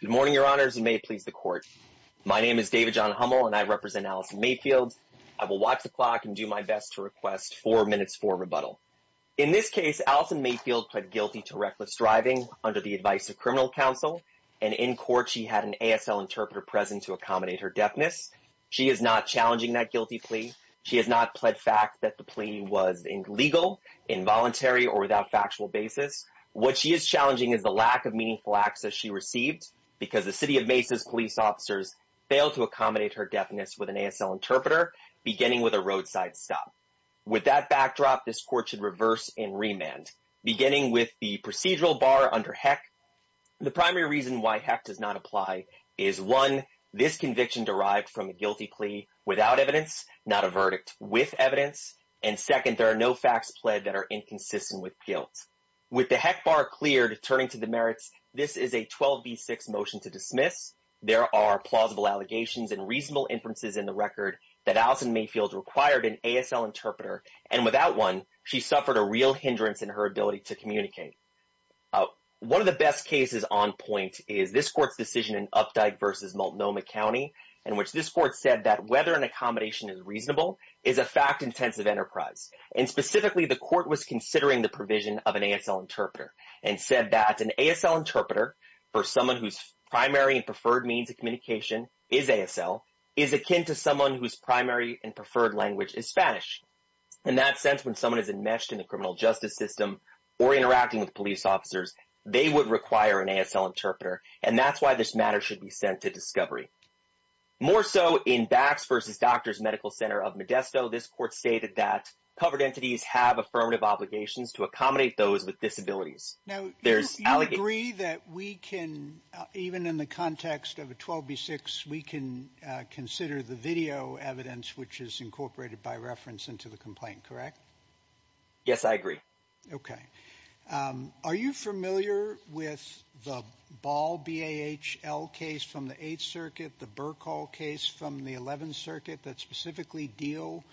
Good morning, your honors, and may it please the court. My name is David John Hummel, and I represent Allison Mayfield. I will watch the clock and do my best to request four minutes for rebuttal. In this case, Allison Mayfield pled guilty to reckless driving under the advice of criminal counsel, and in court she had an ASL interpreter present to accommodate her deafness. She is not challenging that guilty plea. She has not pled fact that the plea was legal, involuntary or without factual basis. What she is challenging is the lack of meaningful access she received because the City of Mesa's police officers failed to accommodate her deafness with an ASL interpreter, beginning with a roadside stop. With that backdrop, this court should reverse and remand, beginning with the procedural bar under HEC. The primary reason why HEC does not apply is, one, this conviction derived from a guilty plea without evidence, not a verdict with evidence, and second, there are no facts pled that are inconsistent with guilt. With the HEC bar cleared, turning to the merits, this is a 12B6 motion to dismiss. There are plausible allegations and reasonable inferences in the record that Allison Mayfield required an ASL interpreter, and without one, she suffered a real hindrance in her ability to communicate. One of the best cases on point is this court's decision in Updike v. Multnomah in which this court said that whether an accommodation is reasonable is a fact-intensive enterprise. Specifically, the court was considering the provision of an ASL interpreter and said that an ASL interpreter, for someone whose primary and preferred means of communication is ASL, is akin to someone whose primary and preferred language is Spanish. In that sense, when someone is enmeshed in the criminal justice system or interacting with police officers, they would require an ASL interpreter, and that's why this matter should be sent to discovery. More so in Bax v. Doctors Medical Center of Modesto, this court stated that covered entities have affirmative obligations to accommodate those with disabilities. Now, you agree that we can, even in the context of a 12B6, we can consider the video evidence which is incorporated by reference into the complaint, correct? Yes, I agree. Okay. Are you familiar with the Ball, B-A-H-L case from the 8th Circuit, the Burkhall case from the 11th Circuit that specifically deal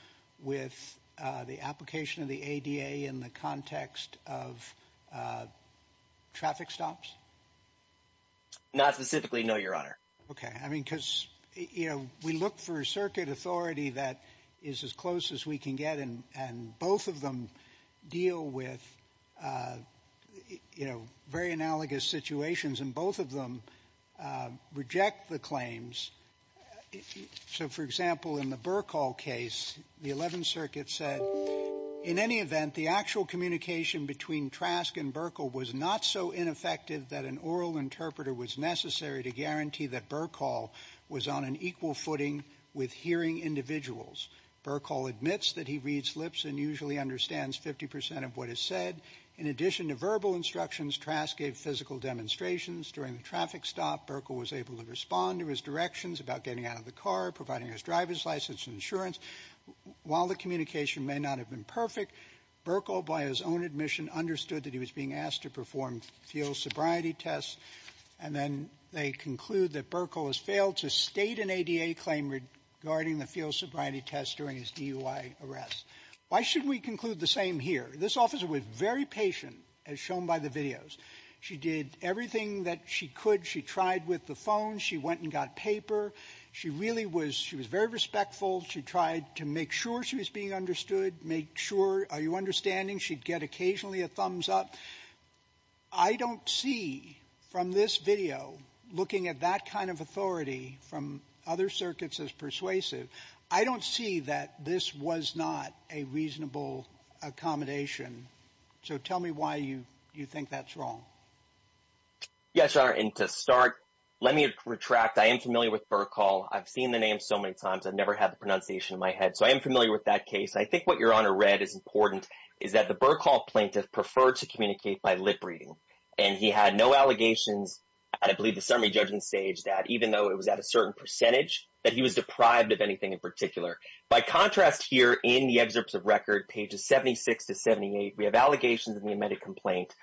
with the application of the ADA in the context of traffic stops? Not specifically, no, Your Honor. Okay. I mean, because we look for a circuit authority that is as close as we can get, and both of them deal with, you know, very analogous situations, and both of them reject the claims. So, for example, in the Burkhall case, the 11th Circuit said, in any event, the actual communication between Trask and Burkhall was not so ineffective that an oral interpreter was necessary to guarantee that Burkhall was on an equal footing with hearing individuals. Burkhall admits that he reads lips and usually understands 50% of what is said. In addition to verbal instructions, Trask gave physical demonstrations. During the traffic stop, Burkhall was able to respond to his directions about getting out of the car, providing his driver's license and insurance. While the communication may not have been perfect, Burkhall, by his own admission, understood that he was being asked to perform field sobriety tests. And then they conclude that Burkhall has failed to state an ADA claim regarding the field sobriety test during his DUI arrest. Why shouldn't we conclude the same here? This officer was very patient, as shown by the videos. She did everything that she could. She tried with the phone. She went and got paper. She really was — she was very respectful. She tried to make sure she was being understood, make sure, are you understanding? She'd get occasionally a thumbs up. I don't see, from this video, looking at that kind of authority from other circuits as persuasive, I don't see that this was not a reasonable accommodation. So tell me why you think that's wrong. Yes, Your Honor, and to start, let me retract. I am familiar with Burkhall. I've seen the name so many times. I've never had the pronunciation in my head. So I am familiar with that case. I think what Your Honor read is important, is that the Burkhall plaintiff preferred to communicate by lip-reading. And he had no allegations, I believe, at the summary judgment stage, that even though it was at a certain percentage, that he was deprived of anything in particular. By contrast here, in the excerpts of record, pages 76 to 78, we have allegations of the amended complaint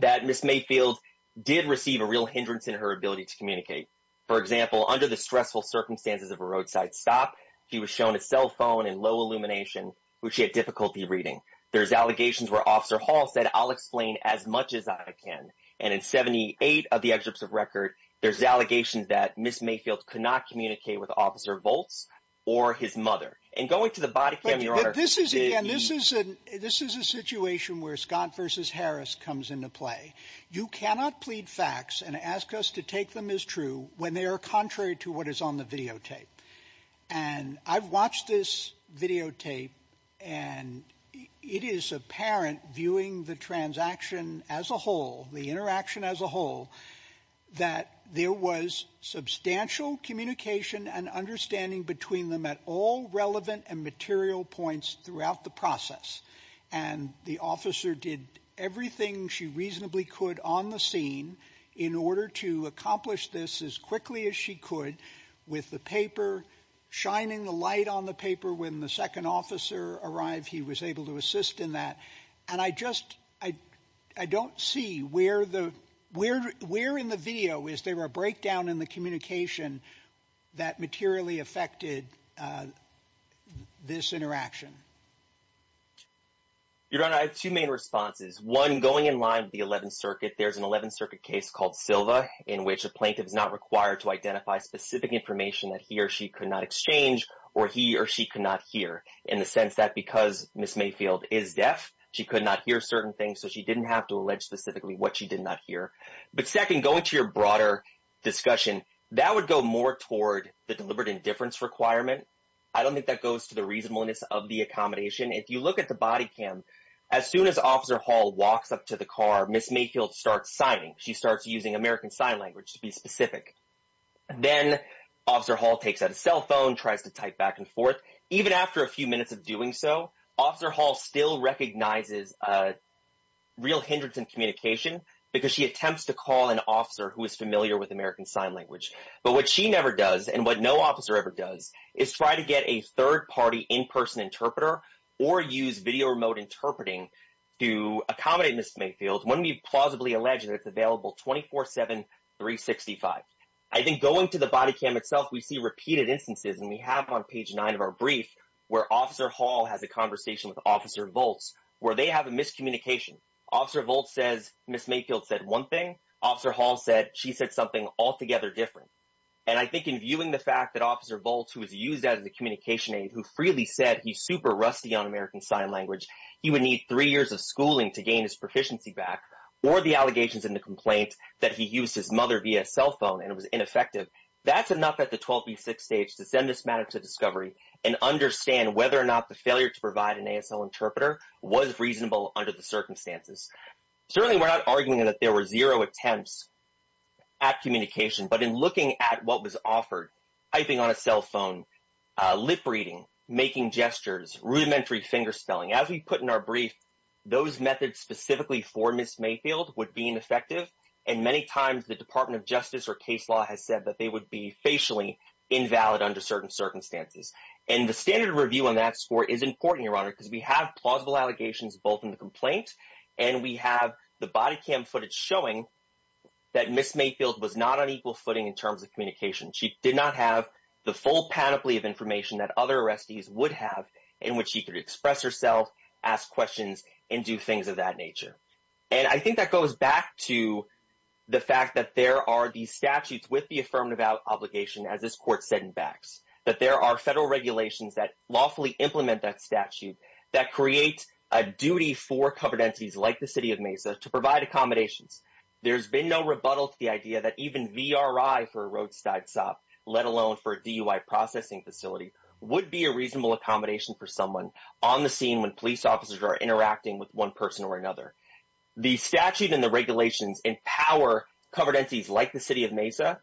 that Ms. Mayfield did receive a real hindrance in her ability to communicate. For example, under the stressful circumstances of a roadside stop, he was shown a cell phone in low illumination, which he had difficulty reading. There's allegations where Officer Hall said, I'll explain as much as I can. And in 78 of the excerpts of record, there's allegations that Ms. Mayfield could not communicate with Officer Volz or his mother. And going to the body cam, Your Honor, this is a situation where Scott versus Harris comes into play. You cannot plead facts and ask us to take them as true when they are contrary to what is on the videotape. And I've watched this videotape, and it is apparent, viewing the transaction as a whole, the interaction as a whole, that there was substantial communication and understanding between them at all relevant and material points throughout the process. And the officer did everything she reasonably could on the scene in order to accomplish this as quickly as she could with the paper, shining the light on the paper. When the second officer arrived, he was able to assist in that. And I just, I don't see where in the video is there a breakdown in the communication that materially affected this interaction? Your Honor, I have two main responses. One, going in line with the 11th Circuit, there's an 11th information that he or she could not exchange or he or she could not hear, in the sense that because Ms. Mayfield is deaf, she could not hear certain things, so she didn't have to allege specifically what she did not hear. But second, going to your broader discussion, that would go more toward the deliberate indifference requirement. I don't think that goes to the reasonableness of the accommodation. If you look at the body cam, as soon as Officer Hall walks up to the car, Ms. Mayfield starts signing. She starts using American Sign Language to be specific. Then Officer Hall takes out a cell phone, tries to type back and forth. Even after a few minutes of doing so, Officer Hall still recognizes a real hindrance in communication because she attempts to call an officer who is familiar with American Sign Language. But what she never does, and what no officer ever does, is try to get a third-party, in-person interpreter or use video remote interpreting to accommodate Ms. Mayfield when we plausibly allege that it's available 24-7, 365. I think going to the body cam itself, we see repeated instances, and we have on page nine of our brief, where Officer Hall has a conversation with Officer Volz, where they have a miscommunication. Officer Volz says Ms. Mayfield said one thing. Officer Hall said she said something altogether different. And I think in viewing the fact that Officer Volz, who is used as a communication aid, who freely said he's super rusty on American Sign Language, he would need three years of schooling to gain his proficiency back, or the allegations in the complaint that he used his mother via cell phone and it was ineffective, that's enough at the 12B6 stage to send this matter to discovery and understand whether or not the failure to provide an ASL interpreter was reasonable under the circumstances. Certainly, we're not arguing that there were zero attempts at communication, but in looking at what was offered, typing on a cell phone, lip reading, making gestures, rudimentary finger spelling, as we put in our brief, those methods specifically for Ms. Mayfield would be ineffective. And many times, the Department of Justice or case law has said that they would be facially invalid under certain circumstances. And the standard review on that score is important, Your Honor, because we have plausible allegations both in the complaint and we have the body cam footage showing that Ms. Mayfield was not on equal footing in terms of communication. She did not have the full panoply of information that other arrestees would have in which she could express herself, ask questions, and do things of that nature. And I think that goes back to the fact that there are these statutes with the affirmative obligation, as this court said in Bax, that there are federal regulations that lawfully implement that statute, that create a duty for covered entities like the city of Mesa to provide accommodations. There's been no rebuttal to the idea that even VRI for a roadside stop, let alone for a DUI processing facility, would be a reasonable accommodation for someone on the scene when police officers are interacting with one person or another. The statute and the regulations empower covered entities like the city of Mesa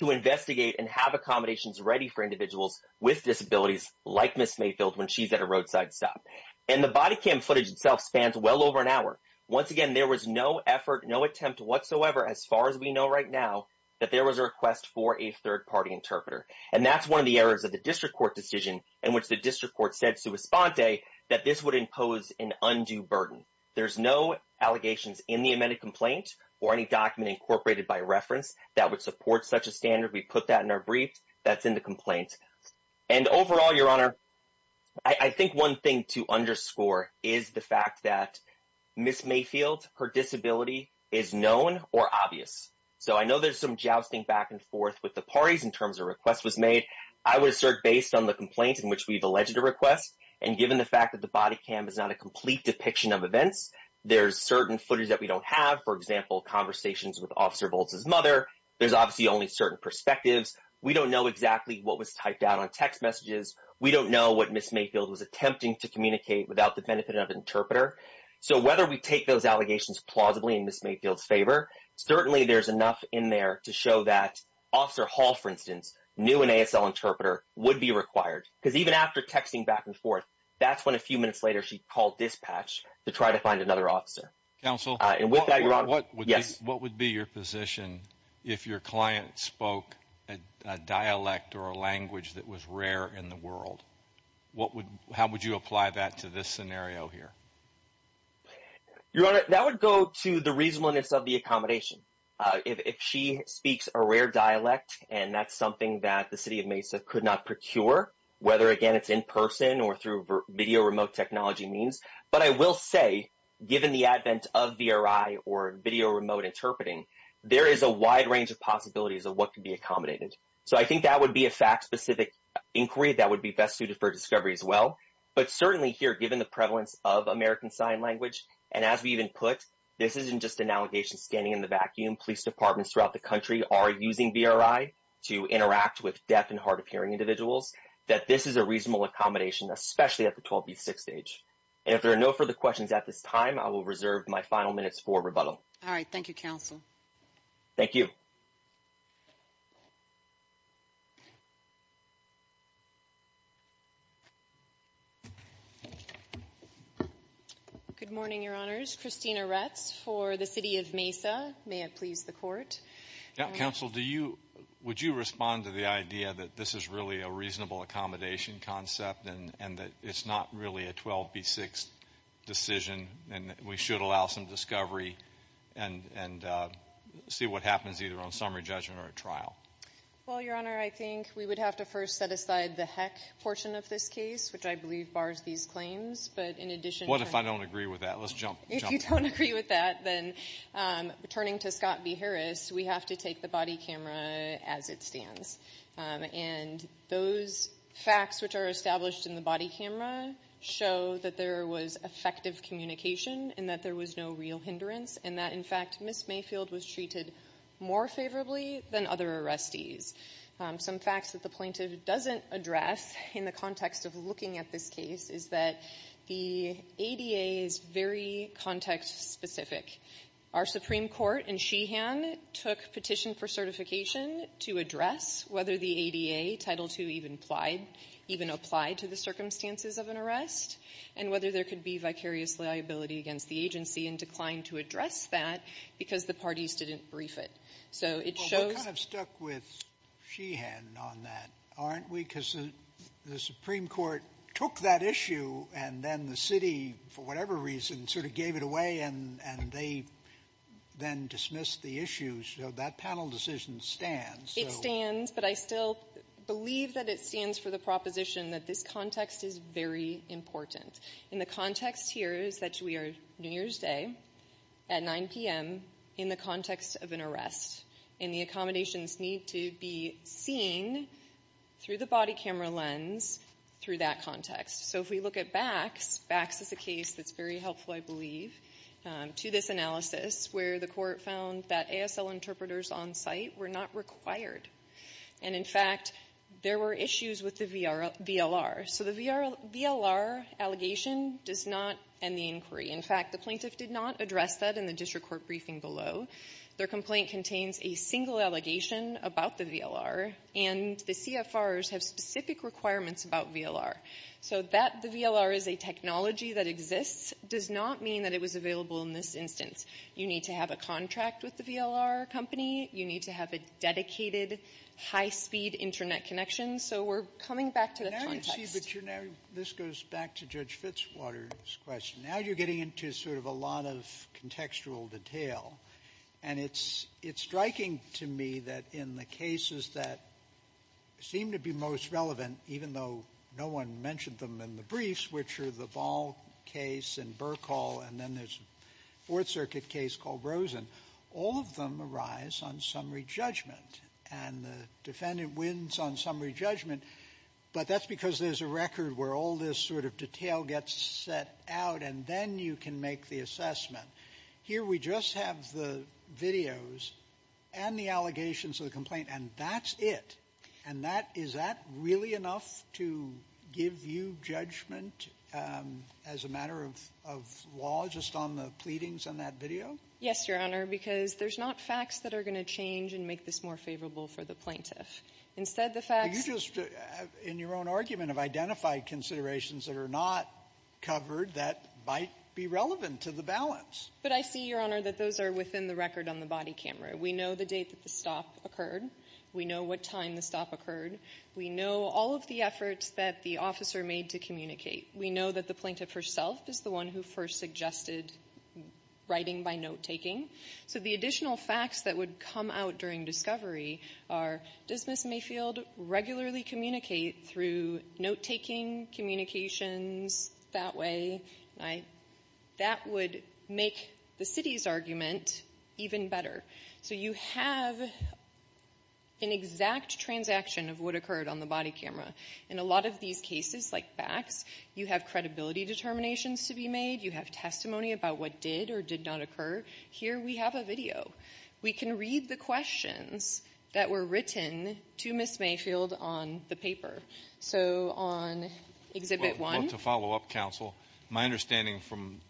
to investigate and have accommodations ready for individuals with disabilities like Ms. Mayfield when she's at a roadside stop. And the body cam footage itself spans well over an hour. Once again, there was no effort, no attempt whatsoever, as far as we know right now, that there was a request for a third-party interpreter. And that's one of the errors of the district court decision in which the district court said sua sponte that this would impose an undue burden. There's no allegations in the amended complaint or any document incorporated by reference that would support such a standard. We put that in our brief that's in the complaint. And overall, Your Honor, I think one thing to underscore is the fact that Ms. Mayfield, her disability, is known or obvious. So I know there's some jousting back and forth with the parties in terms of requests was made. I would assert based on the complaint in which we've alleged a request, and given the fact that the body cam is not a complete depiction of events, there's certain footage that we don't have, for example, conversations with Officer Boltz's mother. There's obviously only certain perspectives. We don't know exactly what was typed out on text messages. We don't know what Ms. Mayfield was attempting to communicate without the benefit of an interpreter. So whether we take those allegations plausibly in Ms. Mayfield's favor, certainly there's enough in there to show that Officer Hall, for instance, knew an ASL interpreter would be required. Because even after texting back and forth, that's when a few minutes later she called dispatch to try to find another officer. Counsel, what would be your position if your client spoke a dialect or a language that was rare in the world? How would you apply that to this scenario here? Your Honor, that would go to the reasonableness of the accommodation. If she speaks a rare dialect, and that's something that the City of Mesa could not procure, whether, again, it's in person or through video remote technology means. But I will say, given the advent of VRI or video remote interpreting, there is a wide range of possibilities of what could be accommodated. So I think that would be a fact-specific inquiry that would be best suited for discovery as well. But certainly here, given the prevalence of American Sign Language, and as we even put, this isn't just an allegation standing in the vacuum. Police departments throughout the country are using VRI to interact with deaf and hard-of-hearing individuals, that this is a reasonable accommodation, especially at the 12B6 stage. And if there are no further questions at this time, I will reserve my final minutes for rebuttal. All right. Thank you, Counsel. Thank you. Good morning, Your Honors. Christina Retz for the City of Mesa. May it please the Court. Counsel, would you respond to the idea that this is really a reasonable accommodation concept and that it's not really a 12B6 decision, and that we should allow some discovery and see what happens either on summary judgment or at trial? Well, Your Honor, I think we would have to first set aside the heck portion of this case, which I believe bars these claims. But in addition... What if I don't agree with that? Let's jump... If you don't agree with that, then turning to Scott B. Harris, we have to take the body camera as it stands. And those facts which are established in the body camera show that there was effective communication and that there was no real hindrance, and that, in fact, Ms. Mayfield was treated more favorably than other arrestees. Some facts that the plaintiff doesn't address in the context of looking at this case is that the ADA is very context-specific. Our Supreme Court in Sheehan took petition for certification to address whether the ADA, Title II, even applied to the circumstances of an arrest and whether there could be vicarious liability against the agency and declined to address that because the parties didn't brief it. So it shows... Well, we're kind of stuck with Sheehan on that, aren't we? Because the Supreme Court took that issue, and then the city, for whatever reason, sort of gave it away, and they then dismissed the issue. So that panel decision stands. It stands, but I still believe that it stands for the proposition that this context is very important. And the context here is that we are New Year's Day at 9 p.m. in the context of an arrest, and the accommodations need to be seen through the body camera lens, through that context. So if we look at BACS, BACS is a case that's very helpful, I believe, to this analysis, where the court found that ASL interpreters on site were not required. And, in fact, there were issues with the VLR. So the VLR allegation does not end the inquiry. In fact, the plaintiff did not address that in the district court briefing below. Their complaint contains a single allegation about the VLR, and the CFRs have specific requirements about VLR. So that the VLR is a technology that exists does not mean that it was available in this instance. You need to have a contract with the VLR company. You need to have a dedicated, high-speed Internet connection. So we're coming back to the context. Sotomayor, this goes back to Judge Fitzwater's question. Now you're getting into sort of a lot of contextual detail. And it's striking to me that in the cases that seem to be most relevant, even though no one mentioned them in the briefs, which are the Ball case and Burkhall, and then there's a Fourth Circuit case called Rosen, all of them arise on summary judgment. And the defendant wins on summary judgment, but that's because there's a record where all this sort of detail gets set out, and then you can make the assessment. Here we just have the videos and the allegations of the complaint, and that's it. And that — is that really enough to give you judgment as a matter of law just on the pleadings on that video? Yes, Your Honor, because there's not facts that are going to change and make this more favorable for the plaintiff. Instead, the facts — You just, in your own argument, have identified considerations that are not covered that might be relevant to the balance. But I see, Your Honor, that those are within the record on the body camera. We know the date that the stop occurred. We know what time the stop occurred. We know all of the efforts that the officer made to communicate. We know that the plaintiff herself is the one who first suggested writing by note-taking. So the additional facts that come out during discovery are, does Ms. Mayfield regularly communicate through note-taking, communications, that way? That would make the city's argument even better. So you have an exact transaction of what occurred on the body camera. In a lot of these cases, like BACs, you have credibility determinations to be made. You have testimony about what did or did not occur. Here we have a video. We can read the questions that were written to Ms. Mayfield on the paper. So on Exhibit 1 — Well, to follow up, counsel, my understanding from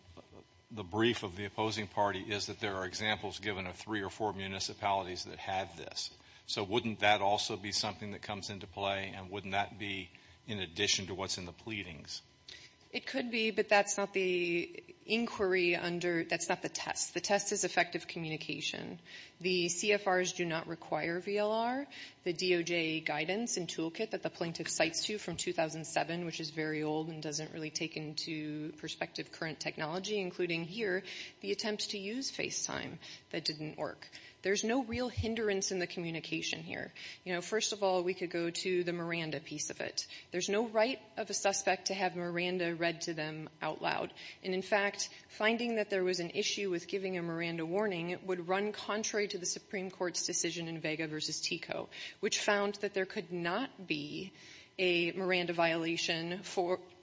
the brief of the opposing party is that there are examples given of three or four municipalities that had this. So wouldn't that also be something that comes into play? And wouldn't that be in addition to what's in the pleadings? It could be, but that's not the inquiry under — that's not the test. The test is effective communication. The CFRs do not require VLR. The DOJ guidance and toolkit that the plaintiff cites to from 2007, which is very old and doesn't really take into perspective current technology, including here, the attempt to use FaceTime, that didn't work. There's no real hindrance in the communication here. You know, first of all, we could go to the Miranda piece of it. There's no right of a suspect to have Miranda read to them out loud. And, in fact, finding that there was an issue with giving a Miranda warning would run contrary to the Supreme Court's decision in Vega v. TICO, which found that there could not be a Miranda violation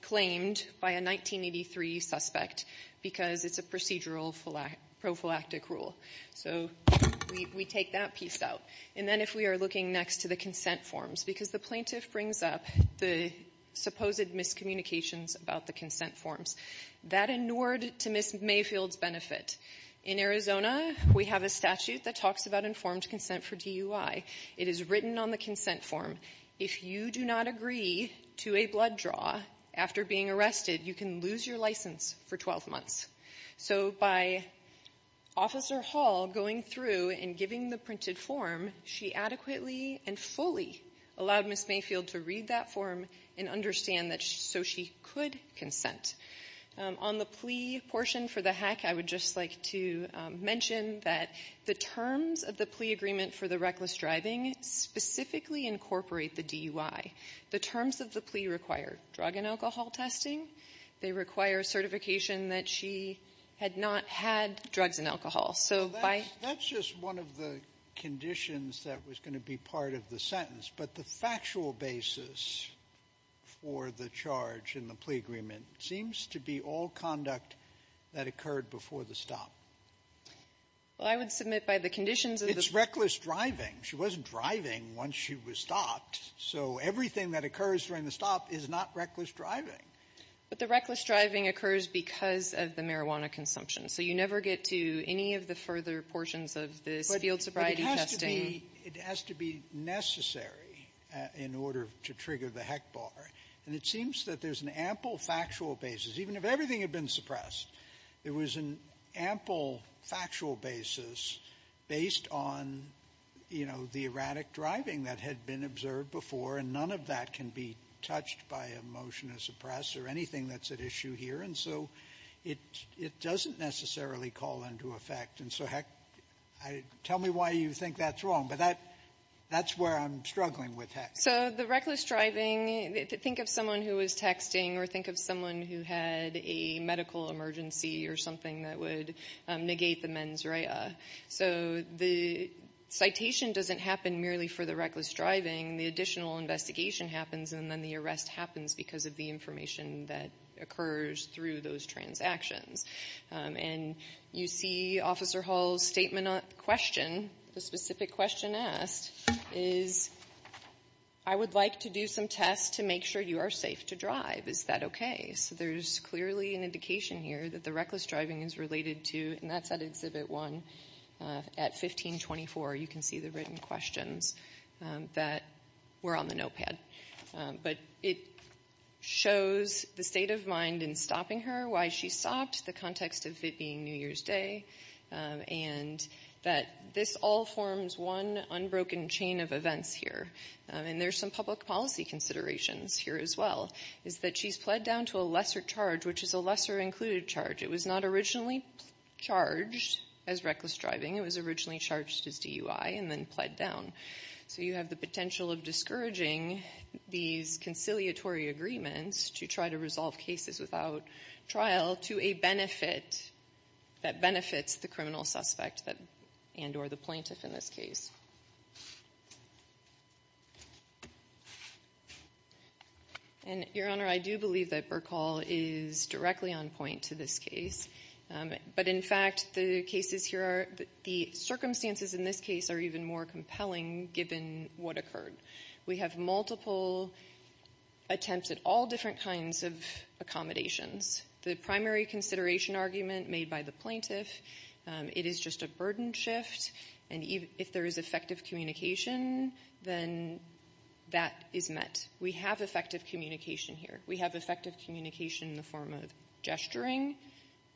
claimed by a 1983 suspect because it's a procedural prophylactic rule. So we take that piece out. And then if we are looking next to the consent forms, because the plaintiff brings up the supposed miscommunications about the consent forms, that inured to Ms. Mayfield's benefit. In Arizona, we have a statute that talks about informed consent for DUI. It is written on the consent form. If you do not agree to a blood draw after being arrested, you can lose your license for 12 months. So by Officer Hall going through and giving the printed form, she adequately and fully allowed Ms. Mayfield to read that form and understand that so she could consent. On the plea portion for the hack, I would just like to mention that the terms of the plea agreement for the reckless driving specifically incorporate the DUI. The terms of the plea require drug and alcohol testing. They require certification that she had not had drugs and alcohol. So that's just one of the conditions that was going to be part of the sentence. But the factual basis for the charge in the plea agreement seems to be all conduct that occurred before the stop. Well, I would submit by the conditions of the It's reckless driving. She wasn't driving once she was stopped. So everything that occurs during the stop is not reckless driving. But the reckless driving occurs because of the marijuana consumption. So you never get to any of the further portions of this field sobriety testing. But it has to be necessary in order to trigger the heck bar. And it seems that there's an ample factual basis. Even if everything had been suppressed, there was an ample factual basis based on, you know, the erratic driving that had been observed before. And none of that can be touched by a motion to suppress or anything that's at issue here. And so it doesn't necessarily call into effect. And so, heck, tell me why you think that's wrong. But that's where I'm struggling with, heck. So the reckless driving, think of someone who was texting or think of someone who had a medical emergency or something that would negate the mens rea. So the citation doesn't happen merely for the reckless driving. The additional investigation happens and then the arrest happens because of the information that occurs through those transactions. And you see Officer Hall's statement on the question, the specific question asked is, I would like to do some tests to make sure you are safe to drive. Is that okay? So there's clearly an indication here that the reckless driving is related to, and that's at Exhibit 1, at 1524, you can see the written questions that were on the but it shows the state of mind in stopping her, why she stopped, the context of it being New Year's Day, and that this all forms one unbroken chain of events here. And there's some public policy considerations here as well. Is that she's pled down to a lesser charge, which is a lesser included charge. It was not originally charged as reckless driving. It was originally charged as DUI and then pled down. So you have the potential of discouraging these conciliatory agreements to try to resolve cases without trial to a benefit that benefits the criminal suspect and or the plaintiff in this case. And Your Honor, I do believe that Burkhall is directly on point to this case. But in fact, the circumstances in this case are even more compelling given what occurred. We have multiple attempts at all different kinds of accommodations. The primary consideration argument made by the plaintiff, it is just a burden shift. And if there is effective communication, then that is met. We have effective communication here. We have effective communication in the form of gesturing,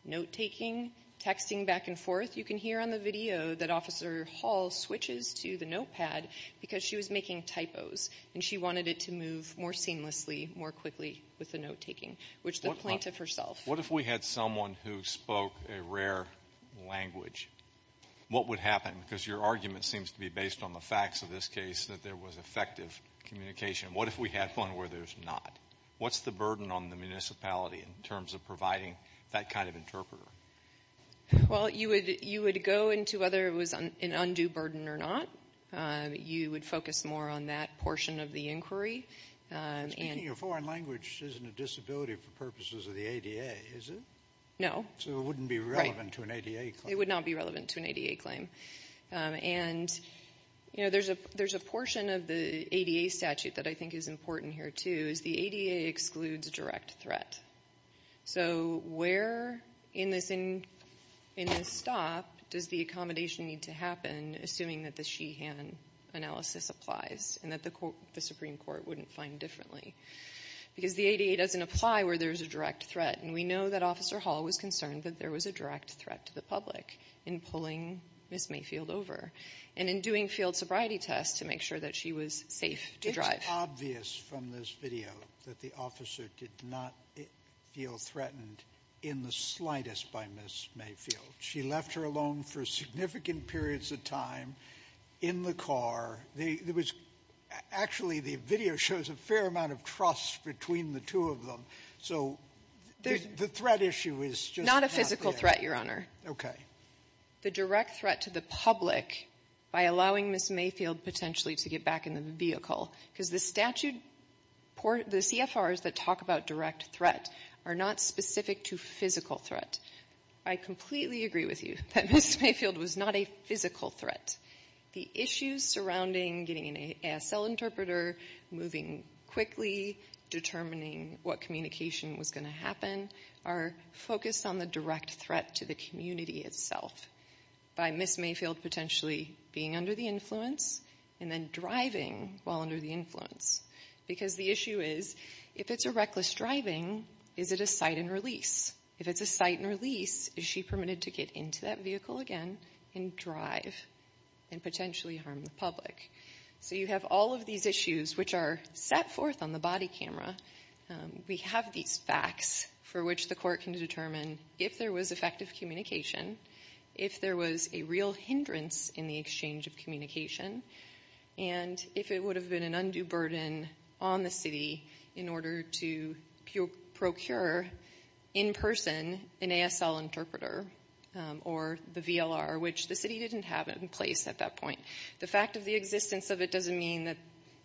note-taking, texting back and forth. You can hear on the video that Officer Hall switches to the notepad because she was making typos, and she wanted it to move more seamlessly, more quickly with the note-taking, which the plaintiff herself. What if we had someone who spoke a rare language? What would happen? Because your argument seems to be based on the facts of this case that there was effective communication. What if we had one where there's not? What's the burden on the municipality in terms of providing that kind of interpreter? Well, you would go into whether it was an undue burden or not. You would focus more on that portion of the inquiry. But speaking a foreign language isn't a disability for purposes of the ADA, is it? No. So it wouldn't be relevant to an ADA claim. It would not be relevant to an ADA claim. And there's a portion of the ADA statute that I think is important here, too, is the ADA excludes direct threat. So where in this stop does the accommodation need to happen, assuming that the Sheehan analysis applies and that the Supreme Court wouldn't find differently? Because the ADA doesn't apply where there's a direct threat. And we know that Officer Hall was concerned that there was a direct threat to the public in pulling Ms. Mayfield over and in doing field sobriety tests to make sure that she was safe to drive. It's obvious from this video that the officer did not feel threatened in the slightest by Ms. Mayfield. She left her alone for significant periods of time in the car. There was actually the video shows a fair amount of trust between the two of them. So the threat issue is just not there. Not a physical threat, Your Honor. Okay. The direct threat to the public by allowing Ms. Mayfield potentially to get back in the vehicle, because the statute, the CFRs that talk about direct threat are not specific to physical threat. I completely agree with you that Ms. Mayfield was not a physical threat. The issues surrounding getting an ASL interpreter, moving quickly, determining what communication was going to happen are focused on the direct threat to the community itself. By Ms. Mayfield potentially being under the influence and then driving while under the influence. Because the issue is, if it's a reckless driving, is it a sight and release? If it's a sight and release, is she permitted to get into that vehicle again and drive and potentially harm the public? So you have all of these issues which are set forth on the body camera. We have these facts for which the court can determine if there was effective communication, if there was a real hindrance in the exchange of communication, and if it would have been an undue burden on the city in order to procure in person an ASL interpreter or the VLR, which the city didn't have in place at that point. The fact of the existence of it doesn't mean that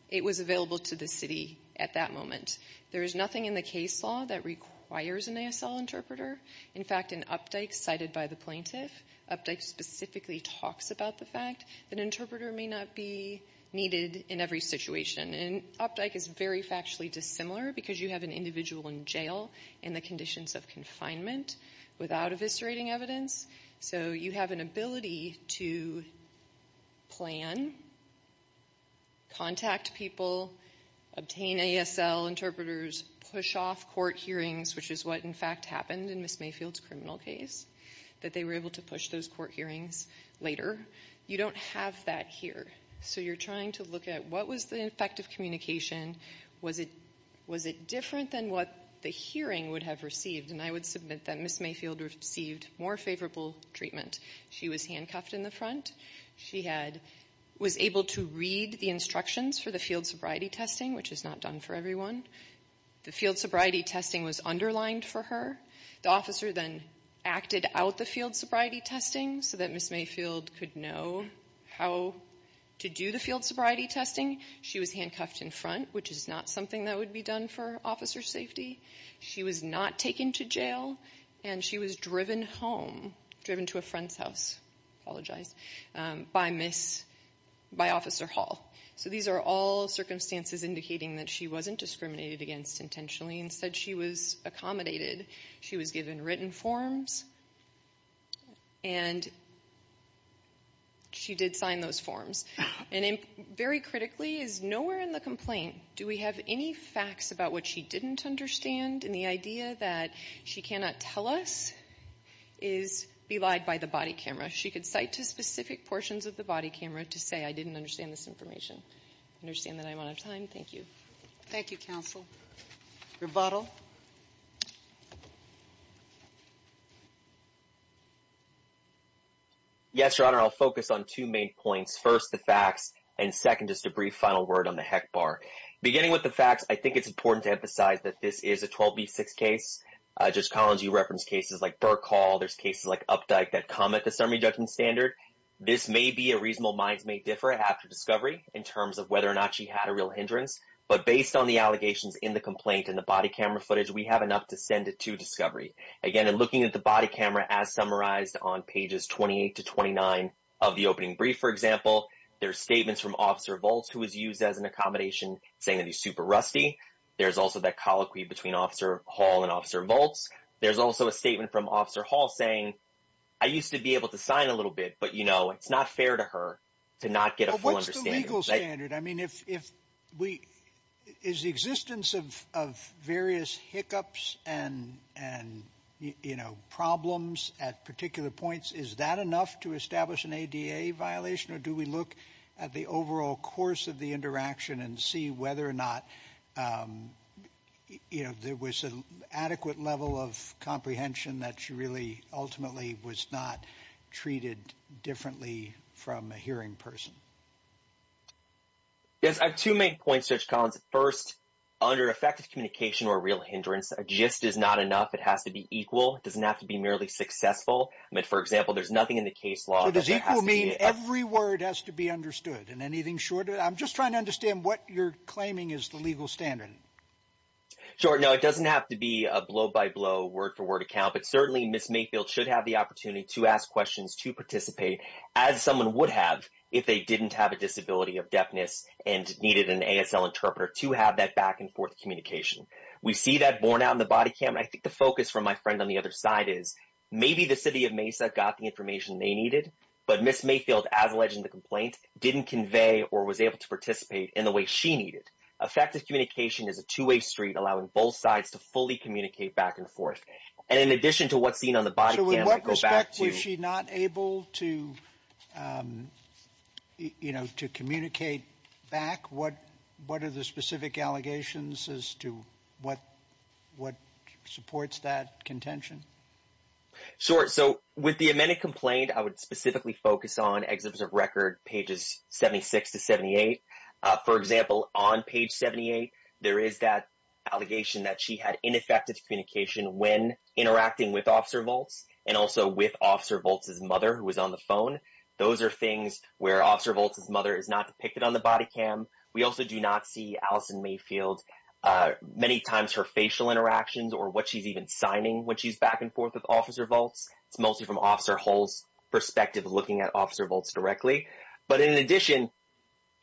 it was available to the city at that moment. There is nothing in the case law that requires an ASL interpreter. In fact, in Updike cited by the plaintiff, Updike specifically talks about the fact that an interpreter may not be needed in every situation. And Updike is very factually dissimilar because you have an individual in jail in the conditions of confinement without eviscerating evidence. So you have an ability to plan, contact people, obtain ASL interpreters, push off court hearings, which is what in fact happened in Ms. Mayfield's criminal case, that they were able to push those court hearings later. You don't have that here. So you're trying to look at what was the effective communication? Was it different than what the hearing would have received? And I would submit that Ms. Mayfield received more favorable treatment. She was handcuffed in the front. She was able to read the instructions for the field sobriety testing, which is not done for everyone. The field sobriety testing was underlined for her. The officer then acted out the field sobriety testing so that Ms. Mayfield could know how to do the field sobriety testing. She was handcuffed in front, which is not something that would be done for officer safety. She was not taken to jail. And she was driven home, driven to a friend's house, apologize, by Officer Hall. So these are all circumstances indicating that she wasn't discriminated against intentionally. Instead, she was accommodated. She was given written forms. And she did sign those forms. And very critically, is nowhere in the complaint do we have any facts about what she didn't understand. And the idea that she cannot tell us is belied by the body camera. She could cite to specific portions of the body camera to say, I didn't understand this information. Understand that I'm out of time. Thank you. Thank you, counsel. Yes, Your Honor. I'll focus on two main points. First, the facts. And second, just a brief final word on the HEC bar. Beginning with the facts, I think it's important to emphasize that this is a 12B6 case. Judge Collins, you referenced cases like Burke Hall. There's cases like Updike that come at the summary judgment standard. This may be a reasonable minds may differ after discovery in terms of whether or not she had a real hindrance. But based on the allegations in the complaint and the body camera footage, we have enough to send it to discovery. Again, in looking at the body camera as summarized on pages 28 to 29 of the opening brief, for example, there are statements from Officer Volz who was used as an accommodation saying that he's super rusty. There's also that colloquy between Officer Hall and Officer Volz. There's also a statement from Officer Hall saying, I used to be able to sign a little bit, but, you know, it's not fair to her to not get a full understanding. What's the legal standard? I mean, is the existence of various hiccups and, you know, problems at particular points, is that enough to establish an ADA violation? Or do we look at the overall course of the interaction and see whether or not, you know, there was an adequate level of comprehension that she really ultimately was not treated differently from a hearing person? Yes. I have two main points, Judge Collins. First, under effective communication or real hindrance, a gist is not enough. It has to be equal. It doesn't have to be merely successful. I mean, for example, there's nothing in the case law that has to be- So does equal mean every word has to be understood? And anything shorter? I'm just trying to understand what you're claiming is the legal standard. Sure. No, it doesn't have to be a blow-by-blow, word-for-word account, but certainly Ms. Mayfield should have the opportunity to ask questions, to participate, as someone would have if they didn't have a disability of deafness and needed an ASL interpreter to have that back-and-forth communication. We see that borne out in the body cam, and I think the focus from my friend on the other side is maybe the city of Mesa got the information they needed, but Ms. Mayfield, as alleged in the complaint, didn't convey or was able to participate in the way she needed. Effective communication is a two-way street, allowing both sides to fully communicate back and forth. And in addition to what's seen on the body cam- So in what respect was she not able to communicate back? What are the specific allegations as to what supports that contention? Sure. So with the amended complaint, I would specifically focus on Exhibits of Record, pages 76 to 78. For example, on page 78, there is that allegation that she had ineffective communication when interacting with Officer Volz and also with Officer Volz's mother, who was on the phone. Those are things where Officer Volz's mother is not depicted on the body cam. We also do not see Allison Mayfield, many times her facial interactions or what she's even signing when she's back and forth with Officer Volz. It's mostly from Officer Hull's perspective, looking at Officer Volz directly. But in addition,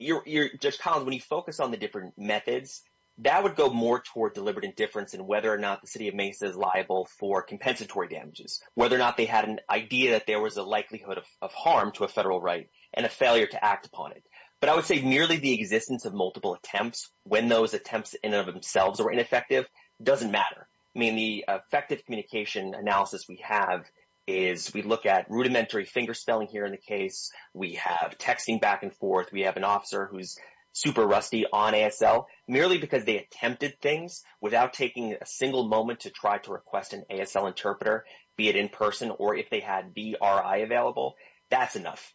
Judge Collins, when you focus on the different methods, that would go more toward deliberate indifference in whether or not the city of Mesa is liable for compensatory damages, whether or not they had an idea that there was a likelihood of harm to a federal right and a failure to act upon it. But I would say merely the existence of multiple attempts, when those attempts in and of themselves are ineffective, doesn't matter. I mean, the effective communication analysis we have is we look at rudimentary fingerspelling here in the case. We have texting back and forth. We have an officer who's super rusty on ASL. Merely because they attempted things without taking a single moment to try to request an ASL interpreter, be it in person or if they had VRI available, that's enough.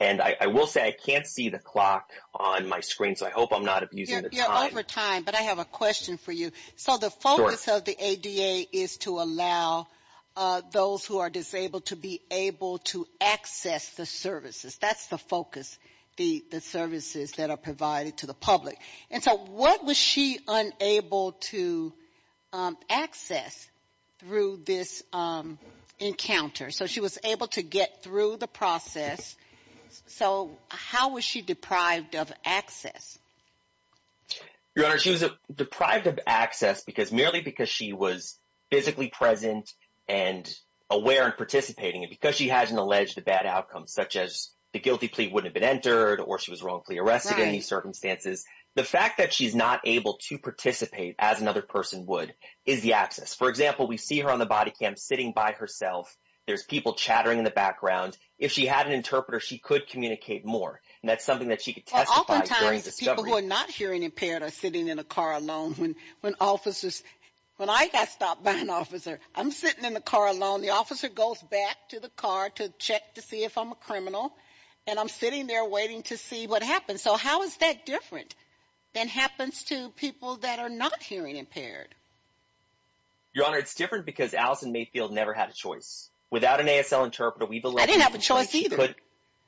And I will say I can't see the clock on my screen, so I hope I'm not abusing the time. You're over time, but I have a question for you. So the focus of the ADA is to allow those who are disabled to be able to access the services. That's the focus, the services that are provided to the public. And so what was she unable to access through this encounter? So she was able to get through the process. So how was she deprived of access? Your Honor, she was deprived of access merely because she was physically present and aware and participating. And because she hasn't alleged a bad outcome, such as the guilty plea wouldn't have been entered or she was wrongfully arrested in these circumstances, the fact that she's not able to participate as another person would is the access. For example, we see her on the body cam sitting by herself. There's people chattering in the background. If she had an interpreter, she could communicate more. And that's something that she could testify during the discussion. People who are not hearing impaired are sitting in a car alone. When I got stopped by an officer, I'm sitting in the car alone. The officer goes back to the car to check to see if I'm a criminal. And I'm sitting there waiting to see what happens. So how is that different than happens to people that are not hearing impaired? Your Honor, it's different because Allison Mayfield never had a choice. Without an ASL interpreter, we believe- I didn't have a choice either.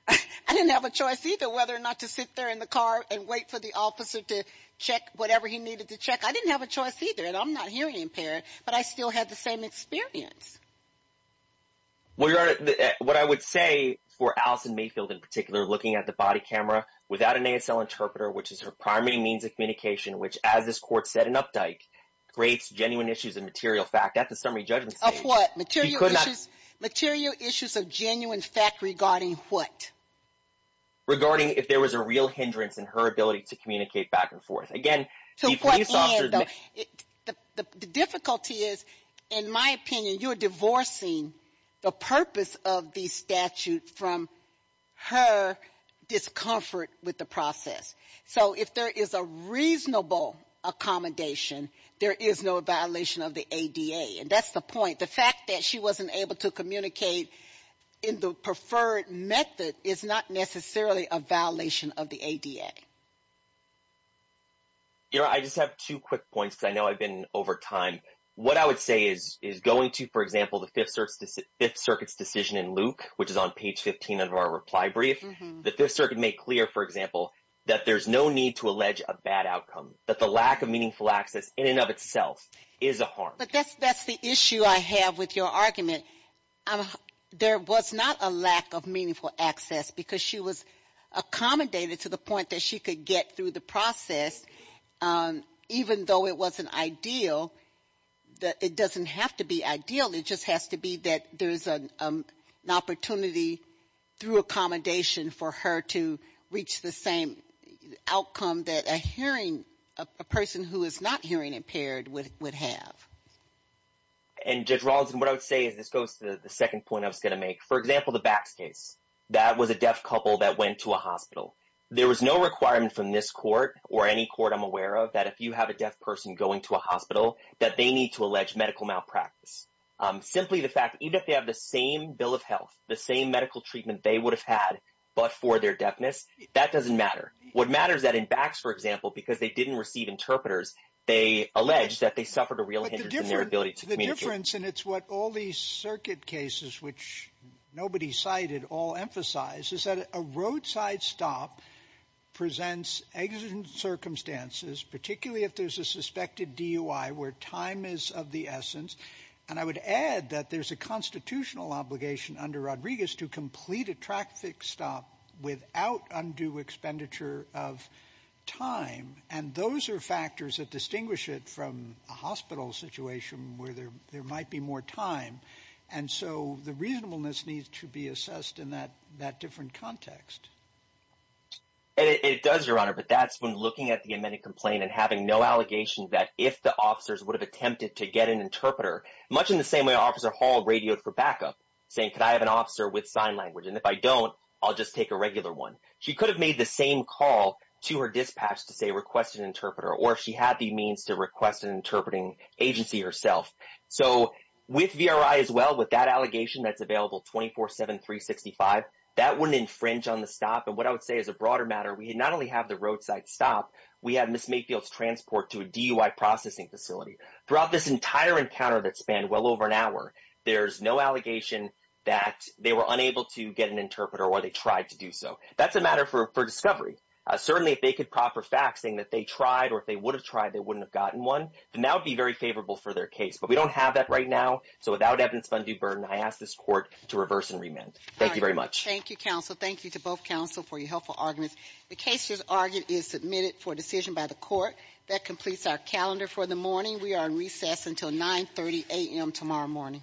I didn't have a choice either whether or not to sit there in the car and wait for the officer to check whatever he needed to check. I didn't have a choice either. And I'm not hearing impaired, but I still had the same experience. Well, Your Honor, what I would say for Allison Mayfield in particular, looking at the body camera without an ASL interpreter, which is her primary means of communication, which, as this court said in Updike, creates genuine issues of material fact. At the summary judgment stage- Of what? Material issues- She could not- What? Regarding if there was a real hindrance in her ability to communicate back and forth. Again, the police officer- So, for Ian, though, the difficulty is, in my opinion, you're divorcing the purpose of the statute from her discomfort with the process. So if there is a reasonable accommodation, there is no violation of the ADA. And that's the point. The fact that she wasn't able to communicate in the preferred method is not necessarily a violation of the ADA. Your Honor, I just have two quick points because I know I've been over time. What I would say is going to, for example, the Fifth Circuit's decision in Luke, which is on page 15 of our reply brief, the Fifth Circuit made clear, for example, that there's no need to allege a bad outcome, that the lack of meaningful access in and of itself is a harm. But that's the issue I have with your argument. There was not a lack of meaningful access because she was accommodated to the point that she could get through the process, even though it wasn't ideal. It doesn't have to be ideal. It just has to be that there's an opportunity through accommodation for her to reach the same outcome that a hearing- a person who is not hearing impaired would have. And Judge Rawlinson, what I would say is- this goes to the second point I was going to make. For example, the Bax case. That was a deaf couple that went to a hospital. There was no requirement from this court or any court I'm aware of that if you have a deaf person going to a hospital, that they need to allege medical malpractice. Simply the fact, even if they have the same bill of health, the same medical treatment they would have had, but for their deafness, that doesn't matter. What matters is that in Bax, for example, because they didn't receive interpreters, they allege that they suffered a real hindrance in their ability to communicate. The difference, and it's what all these circuit cases, which nobody cited, all emphasize, is that a roadside stop presents exigent circumstances, particularly if there's a suspected DUI, where time is of the essence. And I would add that there's a constitutional obligation under Rodriguez to complete a traffic stop without undue expenditure of time. And those are factors that distinguish it from a hospital situation where there might be more time. And so the reasonableness needs to be assessed in that different context. And it does, Your Honor, but that's when looking at the amended complaint and having no allegation that if the officers would have attempted to get an interpreter, much in the same way Officer Hall radioed for backup, saying, could I have an officer with sign language? And if I don't, I'll just take a regular one. She could have made the same call to her dispatch to say request an interpreter, or she had the means to request an interpreting agency herself. So with VRI as well, with that allegation that's available 24-7-365, that wouldn't infringe on the stop. And what I would say as a broader matter, we not only have the roadside stop, we have Ms. Mayfield's transport to a DUI processing facility. Throughout this entire encounter that spanned well over an hour, there's no allegation that they were unable to get an interpreter or they tried to do so. That's a matter for discovery. Certainly, if they could proffer faxing that they tried, or if they would have tried, they wouldn't have gotten one, then that would be very favorable for their case. But we don't have that right now. So without evidence of undue burden, I ask this court to reverse and remand. Thank you very much. Thank you, counsel. Thank you to both counsel for your helpful arguments. The case as argued is submitted for decision by the court. That completes our calendar for the morning. We are in recess until 9.30 a.m. tomorrow morning. Thank you.